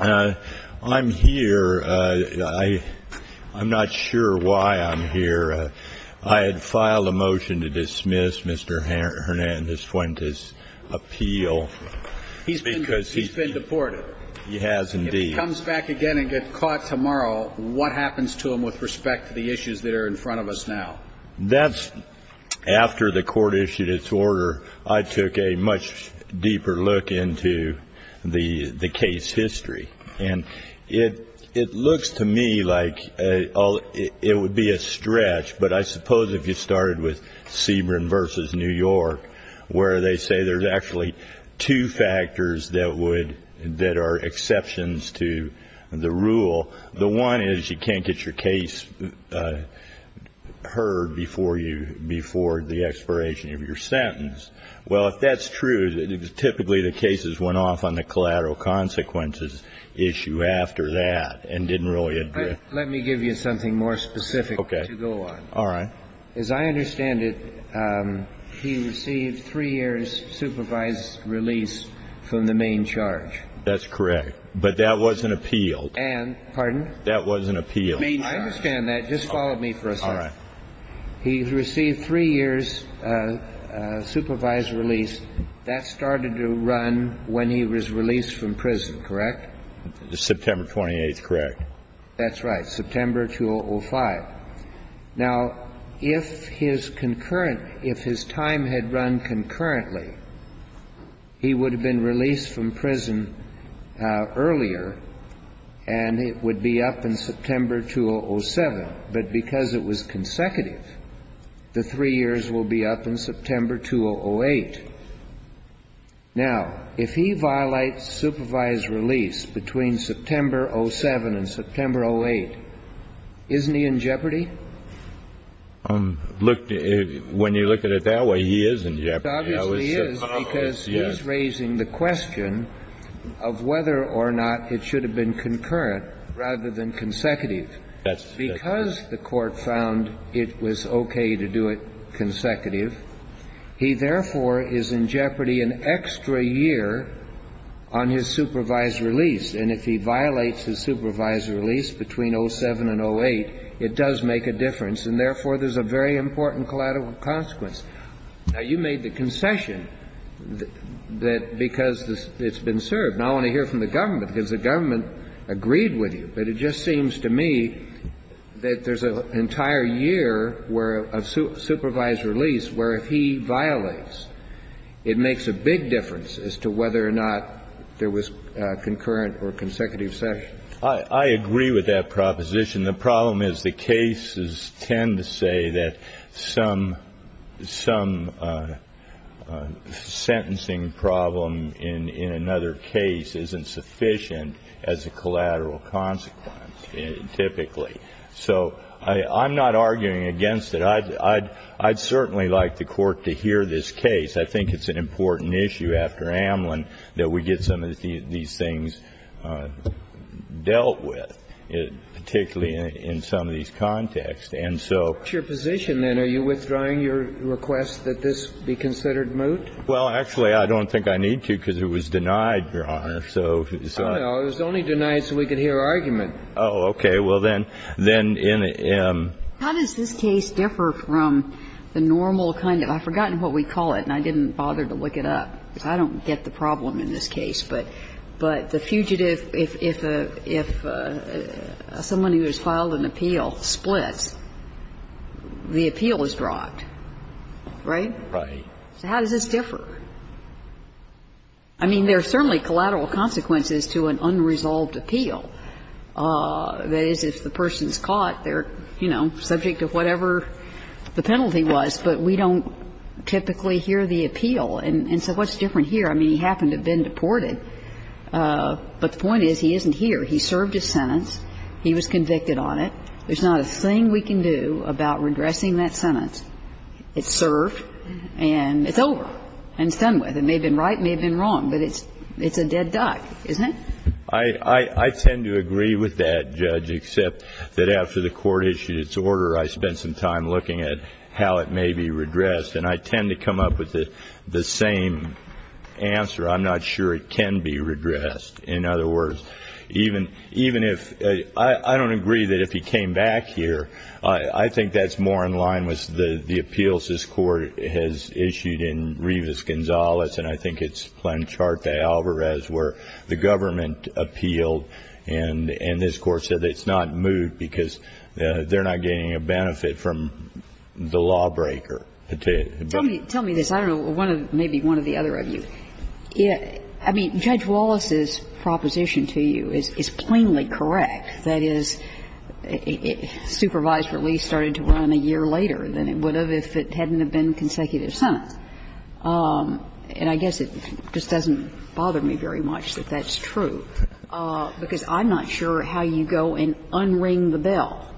I'm here. I'm not sure why I'm here. I had filed a motion to dismiss Mr. Hernandez-Fuentes' appeal. He's been deported. He has, indeed. If he comes back again and gets caught tomorrow, what happens to him with respect to the issues that are in front of us now? That's after the court issued its order. I took a much deeper look into the case history. And it looks to me like it would be a stretch, but I suppose if you started with Sebring v. New York, where they say there's actually two factors that are exceptions to the rule. Well, the one is you can't get your case heard before the expiration of your sentence. Well, if that's true, typically the cases went off on the collateral consequences issue after that and didn't really address. Let me give you something more specific to go on. All right. As I understand it, he received three years' supervised release from the main charge. That's correct. But that wasn't appealed. And, pardon? That wasn't appealed. I understand that. Just follow me for a second. All right. He received three years' supervised release. That started to run when he was released from prison, correct? September 28th, correct. That's right. September 2005. Now, if his concurrent, if his time had run concurrently, he would have been released from prison earlier and it would be up in September 2007. But because it was consecutive, the three years will be up in September 2008. Now, if he violates supervised release between September 07 and September 08, isn't he in jeopardy? Look, when you look at it that way, he is in jeopardy. He obviously is because he's raising the question of whether or not it should have been concurrent rather than consecutive. Yes. Because the Court found it was okay to do it consecutive, he therefore is in jeopardy an extra year on his supervised release. And if he violates his supervised release between 07 and 08, it does make a difference. And therefore, there's a very important collateral consequence. Now, you made the concession that because it's been served. Now, I want to hear from the government because the government agreed with you. But it just seems to me that there's an entire year where a supervised release where if he violates, it makes a big difference as to whether or not there was concurrent or consecutive session. I agree with that proposition. The problem is the cases tend to say that some sentencing problem in another case isn't sufficient as a collateral consequence, typically. So I'm not arguing against it. I'd certainly like the Court to hear this case. I think it's an important issue after Amlin that we get some of these things dealt with, particularly in some of these contexts. And so ---- What's your position, then? Are you withdrawing your request that this be considered moot? Well, actually, I don't think I need to because it was denied, Your Honor. So ---- Oh, no. It was only denied so we could hear argument. Oh, okay. Well, then ---- How does this case differ from the normal kind of ---- I've forgotten what we call it, and I didn't bother to look it up. I don't get the problem in this case. But the fugitive, if someone who has filed an appeal splits, the appeal is dropped. Right? Right. So how does this differ? I mean, there are certainly collateral consequences to an unresolved appeal. That is, if the person's caught, they're, you know, subject to whatever the penalty was, but we don't typically hear the appeal. And so what's different here? I mean, he happened to have been deported, but the point is he isn't here. He served his sentence. He was convicted on it. There's not a thing we can do about redressing that sentence. It's served and it's over and it's done with. It may have been right, it may have been wrong, but it's a dead duck, isn't it? I tend to agree with that, Judge, except that after the court issued its order, I spent some time looking at how it may be redressed. And I tend to come up with the same answer. I'm not sure it can be redressed. In other words, even if I don't agree that if he came back here, I think that's more in line with the appeals this court has issued in Rivas-Gonzalez, and I think it's Plancharta-Alvarez where the government appealed and this court said it's not moved because they're not getting a benefit from the lawbreaker. Tell me this. I don't know. Maybe one of the other of you. I mean, Judge Wallace's proposition to you is plainly correct. That is, supervised release started to run a year later than it would have if it hadn't been consecutive sentence. And I guess it just doesn't bother me very much that that's true, because I'm not sure how you go and unring the bell.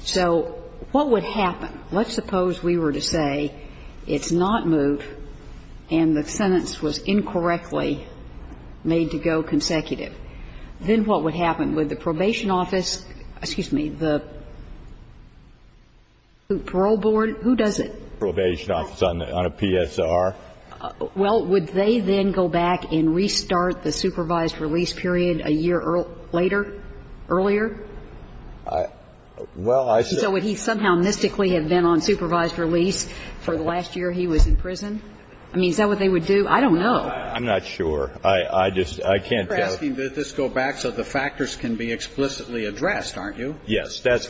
So what would happen? Let's suppose we were to say it's not moved and the sentence was incorrectly made to go consecutive. Then what would happen? Would the probation office, excuse me, the parole board, who does it? The probation office on a PSR? Well, would they then go back and restart the supervised release period a year later, earlier? Well, I said he somehow mystically had been on supervised release for the last year he was in prison. I mean, is that what they would do? I don't know. I'm not sure. I just can't tell. You're asking that this go back so the factors can be explicitly addressed, aren't you?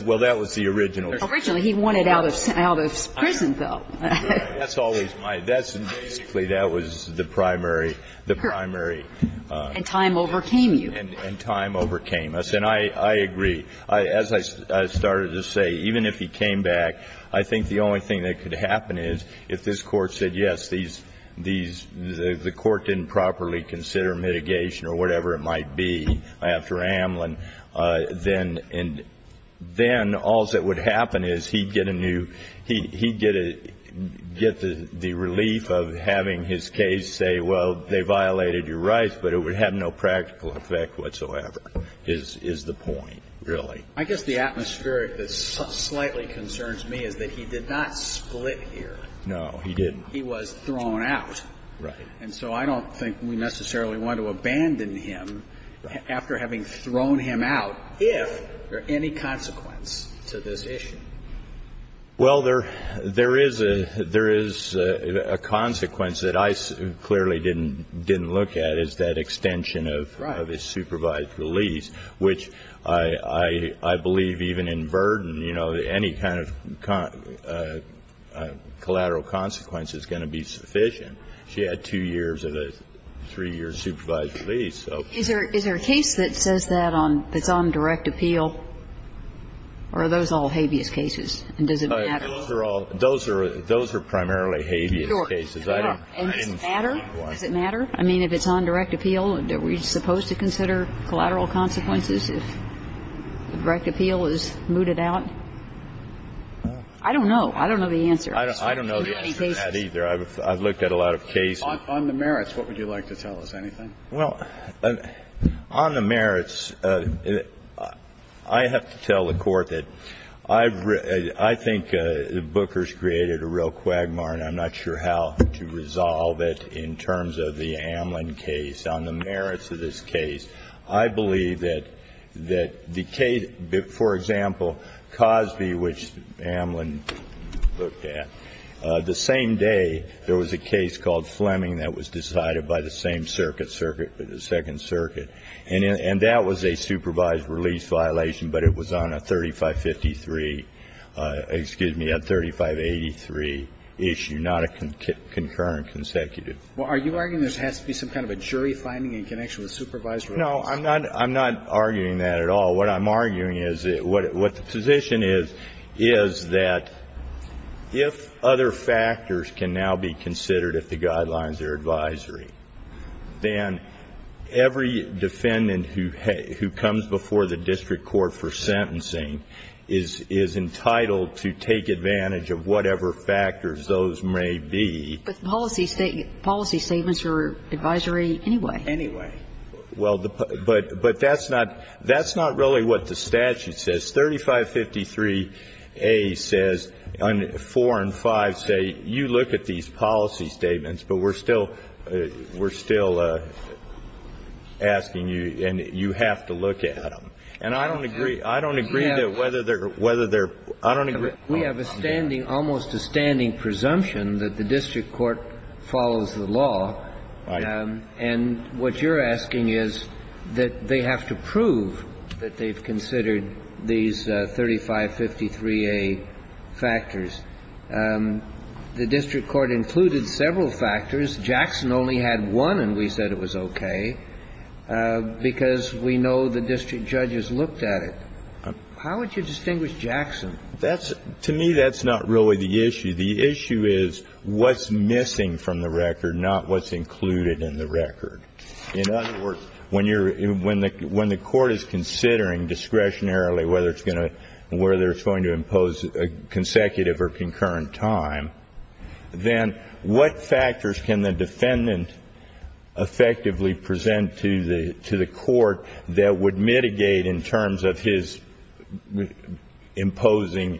Well, that was the original. Originally, he wanted out of prison, though. That's always my, that's basically, that was the primary, the primary. And time overcame you. And time overcame us. And I agree. As I started to say, even if he came back, I think the only thing that could happen is if this Court said, yes, these, the Court didn't properly consider mitigation or whatever it might be after Amlin, then, and then all that would happen is he'd get a new, he'd get a, get the relief of having his case say, well, they violated your rights, but it would have no practical effect whatsoever, is the point, really. I guess the atmosphere that slightly concerns me is that he did not split here. No, he didn't. He was thrown out. Right. And so I don't think we necessarily want to abandon him after having thrown him out if there are any consequence to this issue. Well, there, there is a, there is a consequence that I clearly didn't, didn't look at, is that extension of his supervised release, which I, I believe even in Burden, you know, any kind of collateral consequence is going to be sufficient. She had two years of a three-year supervised release, so. Is there, is there a case that says that on, that's on direct appeal, or are those all habeas cases, and does it matter? Those are all, those are, those are primarily habeas cases. Sure. And does it matter? Does it matter? I mean, if it's on direct appeal, are we supposed to consider collateral consequences if the direct appeal is mooted out? I don't know. I don't know the answer. I don't know the answer to that either. I've looked at a lot of cases. On the merits, what would you like to tell us? Anything? Well, on the merits, I have to tell the Court that I've, I think Booker's created a real quagmire, and I'm not sure how to resolve it in terms of the Amlin case. On the merits of this case, I believe that, that the case, for example, Cosby, which Amlin looked at, the same day there was a case called Fleming that was decided by the same circuit, Circuit, the Second Circuit, and that was a supervised release violation, but it was on a 3553, excuse me, a 3583 issue, not a concurrent consecutive. Well, are you arguing there has to be some kind of a jury finding in connection with supervised release? No. I'm not, I'm not arguing that at all. What I'm arguing is, what the position is, is that if other factors can now be considered if the guidelines are advisory, then every defendant who comes before the district court for sentencing is entitled to take advantage of whatever factors those may be. But policy statements are advisory anyway. Anyway. Well, but that's not, that's not really what the statute says. 3553A says, 4 and 5 say, you look at these policy statements, but we're still, we're still asking you, and you have to look at them. And I don't agree, I don't agree that whether they're, whether they're, I don't agree. We have a standing, almost a standing presumption that the district court follows the law. And what you're asking is that they have to prove that they've considered these 3553A factors. The district court included several factors. Jackson only had one, and we said it was okay, because we know the district judges looked at it. How would you distinguish Jackson? That's, to me, that's not really the issue. The issue is what's missing from the record, not what's included in the record. In other words, when you're, when the court is considering discretionarily whether it's going to, whether it's going to impose a consecutive or concurrent time, then what factors can the defendant effectively present to the court that would mitigate in terms of his imposing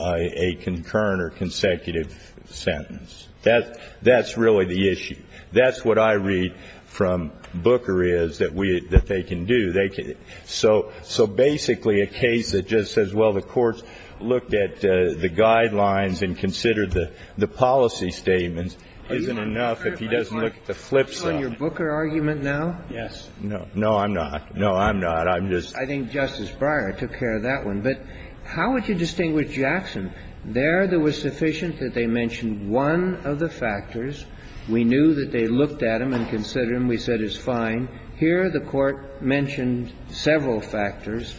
a concurrent or consecutive sentence? That's, that's really the issue. That's what I read from Booker is that we, that they can do. They can, so, so basically a case that just says, well, the courts looked at the guidelines and considered the, the policy statements isn't enough if he doesn't look at the flipside. Are you on your Booker argument now? Yes. No, I'm not. No, I'm not. I'm just. I think Justice Breyer took care of that one. But how would you distinguish Jackson? There, there was sufficient that they mentioned one of the factors. We knew that they looked at him and considered him. We said it's fine. Here, the Court mentioned several factors.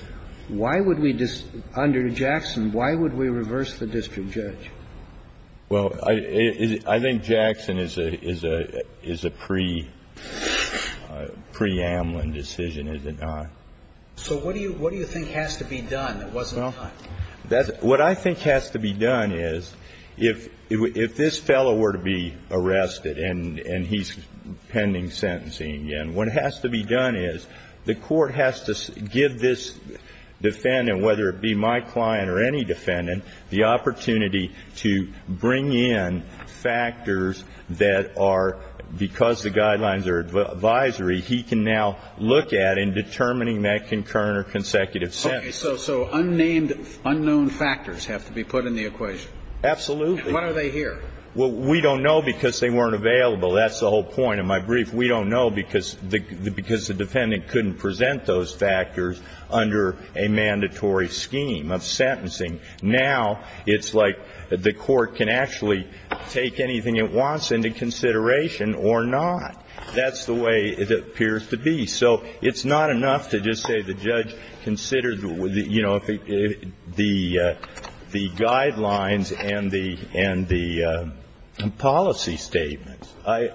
Why would we, under Jackson, why would we reverse the district judge? Well, I, I think Jackson is a, is a, is a pre, preambling decision, is it not? So what do you, what do you think has to be done that wasn't done? Well, that's, what I think has to be done is if, if this fellow were to be arrested and, and he's pending sentencing again, what has to be done is the court has to give this defendant, whether it be my client or any defendant, the opportunity to bring in factors that are, because the guidelines are advisory, he can now look at and determining that concurrent or consecutive sentence. Okay. So, so unnamed, unknown factors have to be put in the equation. Absolutely. What are they here? Well, we don't know because they weren't available. That's the whole point of my brief. We don't know because, because the defendant couldn't present those factors under a mandatory scheme of sentencing. Now it's like the court can actually take anything it wants into consideration or not. That's the way it appears to be. So it's not enough to just say the judge considered, you know, the, the guidelines and the, and the policy statements. I,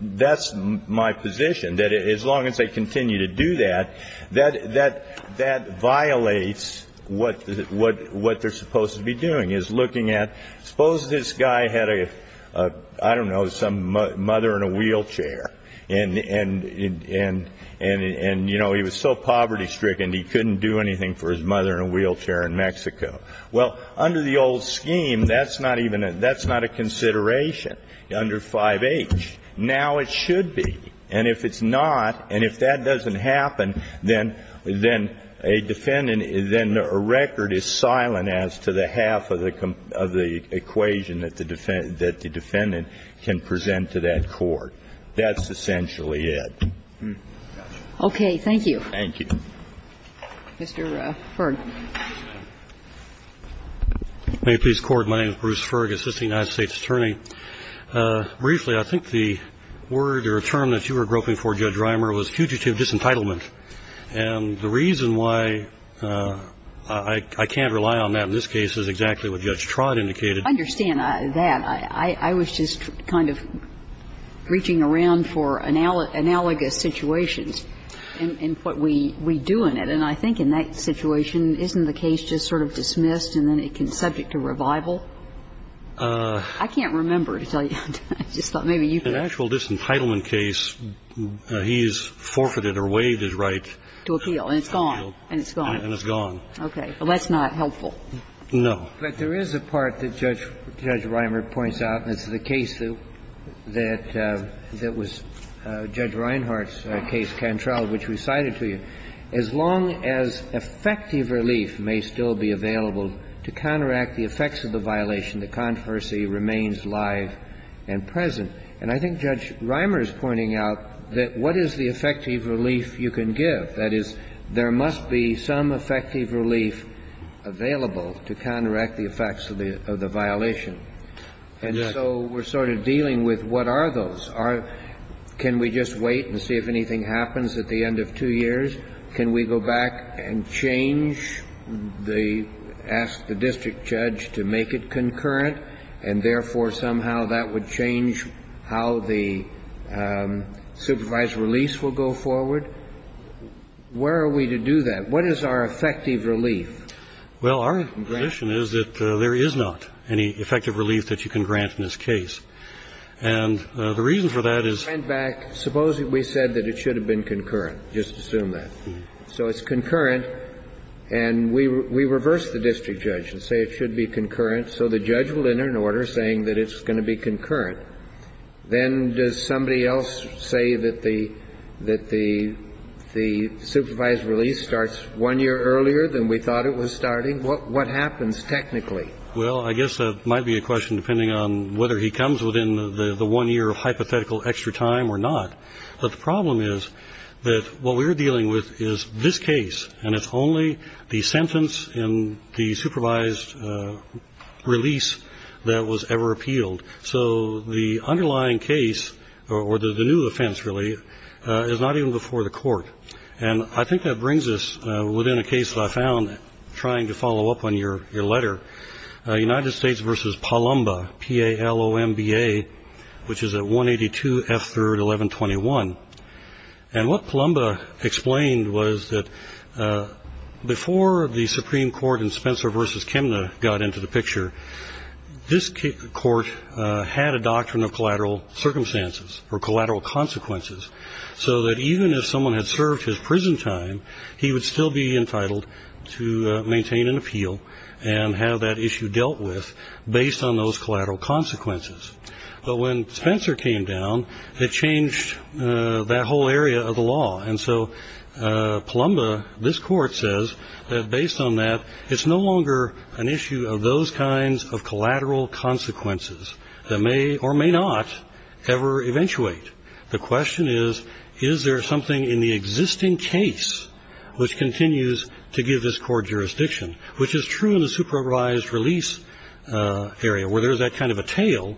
that's my position that as long as they continue to do that, that, that, that violates what, what, what they're supposed to be doing is looking at, suppose this guy had a, I don't know, some mother in a wheelchair and, and, and, and, and, you know, he was so poverty stricken he couldn't do anything for his mother in a wheelchair in Mexico. Well, under the old scheme, that's not even, that's not a consideration. Under 5H, now it should be. And if it's not, and if that doesn't happen, then, then a defendant, then a record is silent as to the half of the, of the equation that the defendant, that the defendant can present to that court. That's essentially it. Okay. Thank you. Thank you. Mr. Ferg. May it please the Court. My name is Bruce Ferg, assistant United States attorney. Briefly, I think the word or term that you were groping for, Judge Reimer, was fugitive disentitlement. And the reason why I, I can't rely on that in this case is exactly what Judge Trott indicated. I understand that. I, I was just kind of reaching around for analogous situations and, and what we, we do in it. And I think in that situation, isn't the case just sort of dismissed and then it can be subject to revival? I can't remember to tell you. I just thought maybe you could. In actual disentitlement case, he has forfeited or waived his right. To appeal. And it's gone. And it's gone. And it's gone. Okay. Well, that's not helpful. No. But there is a part that Judge, Judge Reimer points out, and it's the case that, that, that was Judge Reinhart's case, Cantrell, which recited to you, as long as effective relief may still be available to counteract the effects of the violation, the controversy remains live and present. And I think Judge Reimer is pointing out that what is the effective relief you can give? That is, there must be some effective relief available to counteract the effects of the, of the violation. And so we're sort of dealing with what are those? Are, can we just wait and see if anything happens at the end of two years? Can we go back and change the, ask the district judge to make it concurrent and, therefore, somehow that would change how the supervised release will go forward? Where are we to do that? What is our effective relief? Well, our position is that there is not any effective relief that you can grant in this case. And the reason for that is. If we went back, suppose we said that it should have been concurrent. Just assume that. So it's concurrent. And we, we reverse the district judge and say it should be concurrent. So the judge will enter an order saying that it's going to be concurrent. Then does somebody else say that the, that the, the supervised release starts one year earlier than we thought it was starting? What, what happens technically? Well, I guess that might be a question depending on whether he comes within the, the one year of hypothetical extra time or not. But the problem is that what we're dealing with is this case. And it's only the sentence in the supervised release that was ever appealed. So the underlying case, or the new offense really, is not even before the court. And I think that brings us within a case that I found trying to follow up on your, your letter. United States versus Palomba, P-A-L-O-M-B-A, which is at 182 F3rd 1121. And what Palomba explained was that before the Supreme Court and Spencer versus Chemna got into the picture, this court had a doctrine of collateral circumstances or collateral consequences. So that even if someone had served his prison time, he would still be entitled to maintain an appeal and have that issue dealt with based on those collateral consequences. But when Spencer came down, it changed that whole area of the law. And so Palomba, this court says that based on that it's no longer an issue of those kinds of collateral consequences that may or may not ever eventuate. The question is, is there something in the existing case which continues to give this court jurisdiction, which is true in the supervised release area where there is that kind of a tail,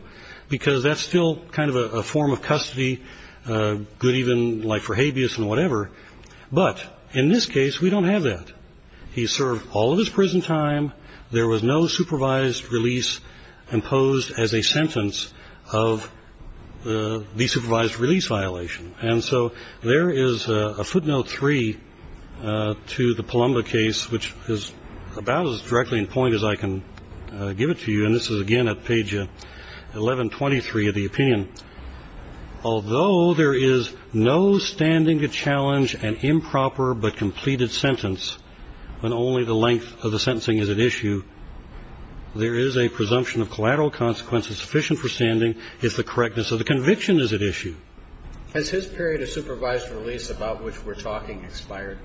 because that's still kind of a form of custody, good even like for habeas and whatever. But in this case, we don't have that. He served all of his prison time. And so there is a footnote three to the Palomba case, which is about as directly in point as I can give it to you. And this is again at page 1123 of the opinion. Although there is no standing to challenge an improper but completed sentence, when only the length of the sentencing is at issue, there is a presumption of collateral consequences sufficient for standing. And so the question is, is there something in the existing case which continues but only the length of the sentencing is at issue, and there is no standing to challenge an improper but completed sentence, when only the length of the sentencing is at issue. Has his period of supervised release about which we're talking expired?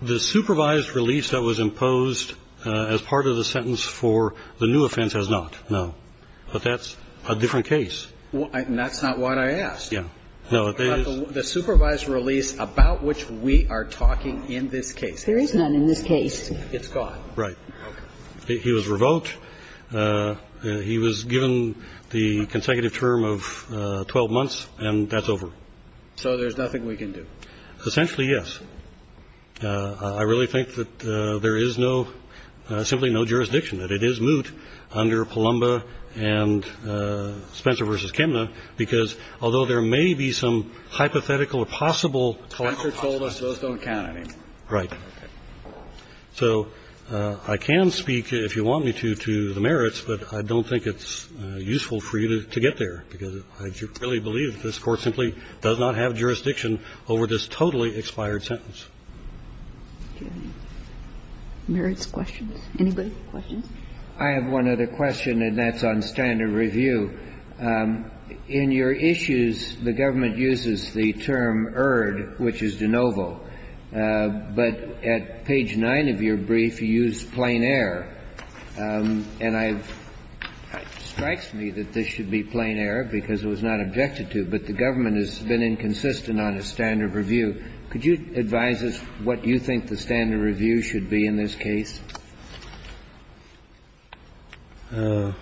The supervised release that was imposed as part of the sentence for the new offense has not, no. But that's a different case. And that's not what I asked. Yeah. No, it is. The supervised release about which we are talking in this case. There is none in this case. It's gone. Right. Okay. He was revoked. He was given the consecutive term of 12 months, and that's over. So there's nothing we can do. Essentially, yes. I really think that there is no, simply no jurisdiction, that it is moot under Palumba and Spencer v. Kemner, because although there may be some hypothetical or possible collateral consequences. Those don't count, I think. Right. So I can speak, if you want me to, to the merits, but I don't think it's useful for you to get there, because I really believe that this Court simply does not have the jurisdiction over this totally expired sentence. Do you have any merits questions? Anybody have questions? I have one other question, and that's on standard review. In your issues, the government uses the term ERD, which is de novo. But at page 9 of your brief, you use plain error. And I've, it strikes me that this should be plain error, because it was not objected to, but the government has been inconsistent on a standard review. Could you advise us what you think the standard review should be in this case? Let's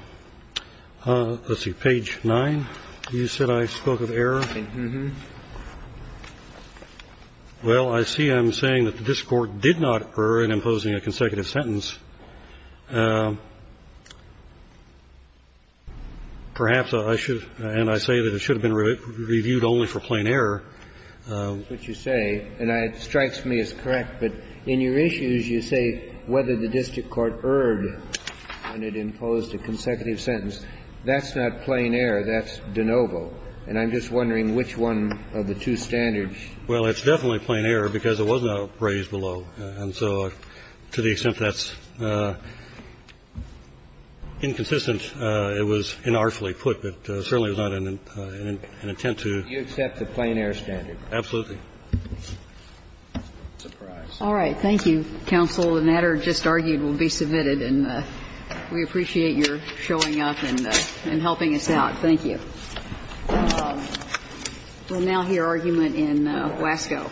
see. Page 9. You said I spoke of error. Well, I see I'm saying that this Court did not err in imposing a consecutive sentence. Perhaps I should, and I say that it should have been reviewed only for plain error. That's what you say, and it strikes me as correct. But in your issues, you say whether the district court erred when it imposed a consecutive sentence. That's not plain error. That's de novo. And I'm just wondering which one of the two standards. Well, it's definitely plain error, because it was not raised below. And so to the extent that's inconsistent, it was inartfully put. But certainly it was not an intent to. Do you accept the plain error standard? Absolutely. All right. Thank you, counsel. The matter just argued will be submitted. And we appreciate your showing up and helping us out. Thank you. We'll now hear argument in Wasco.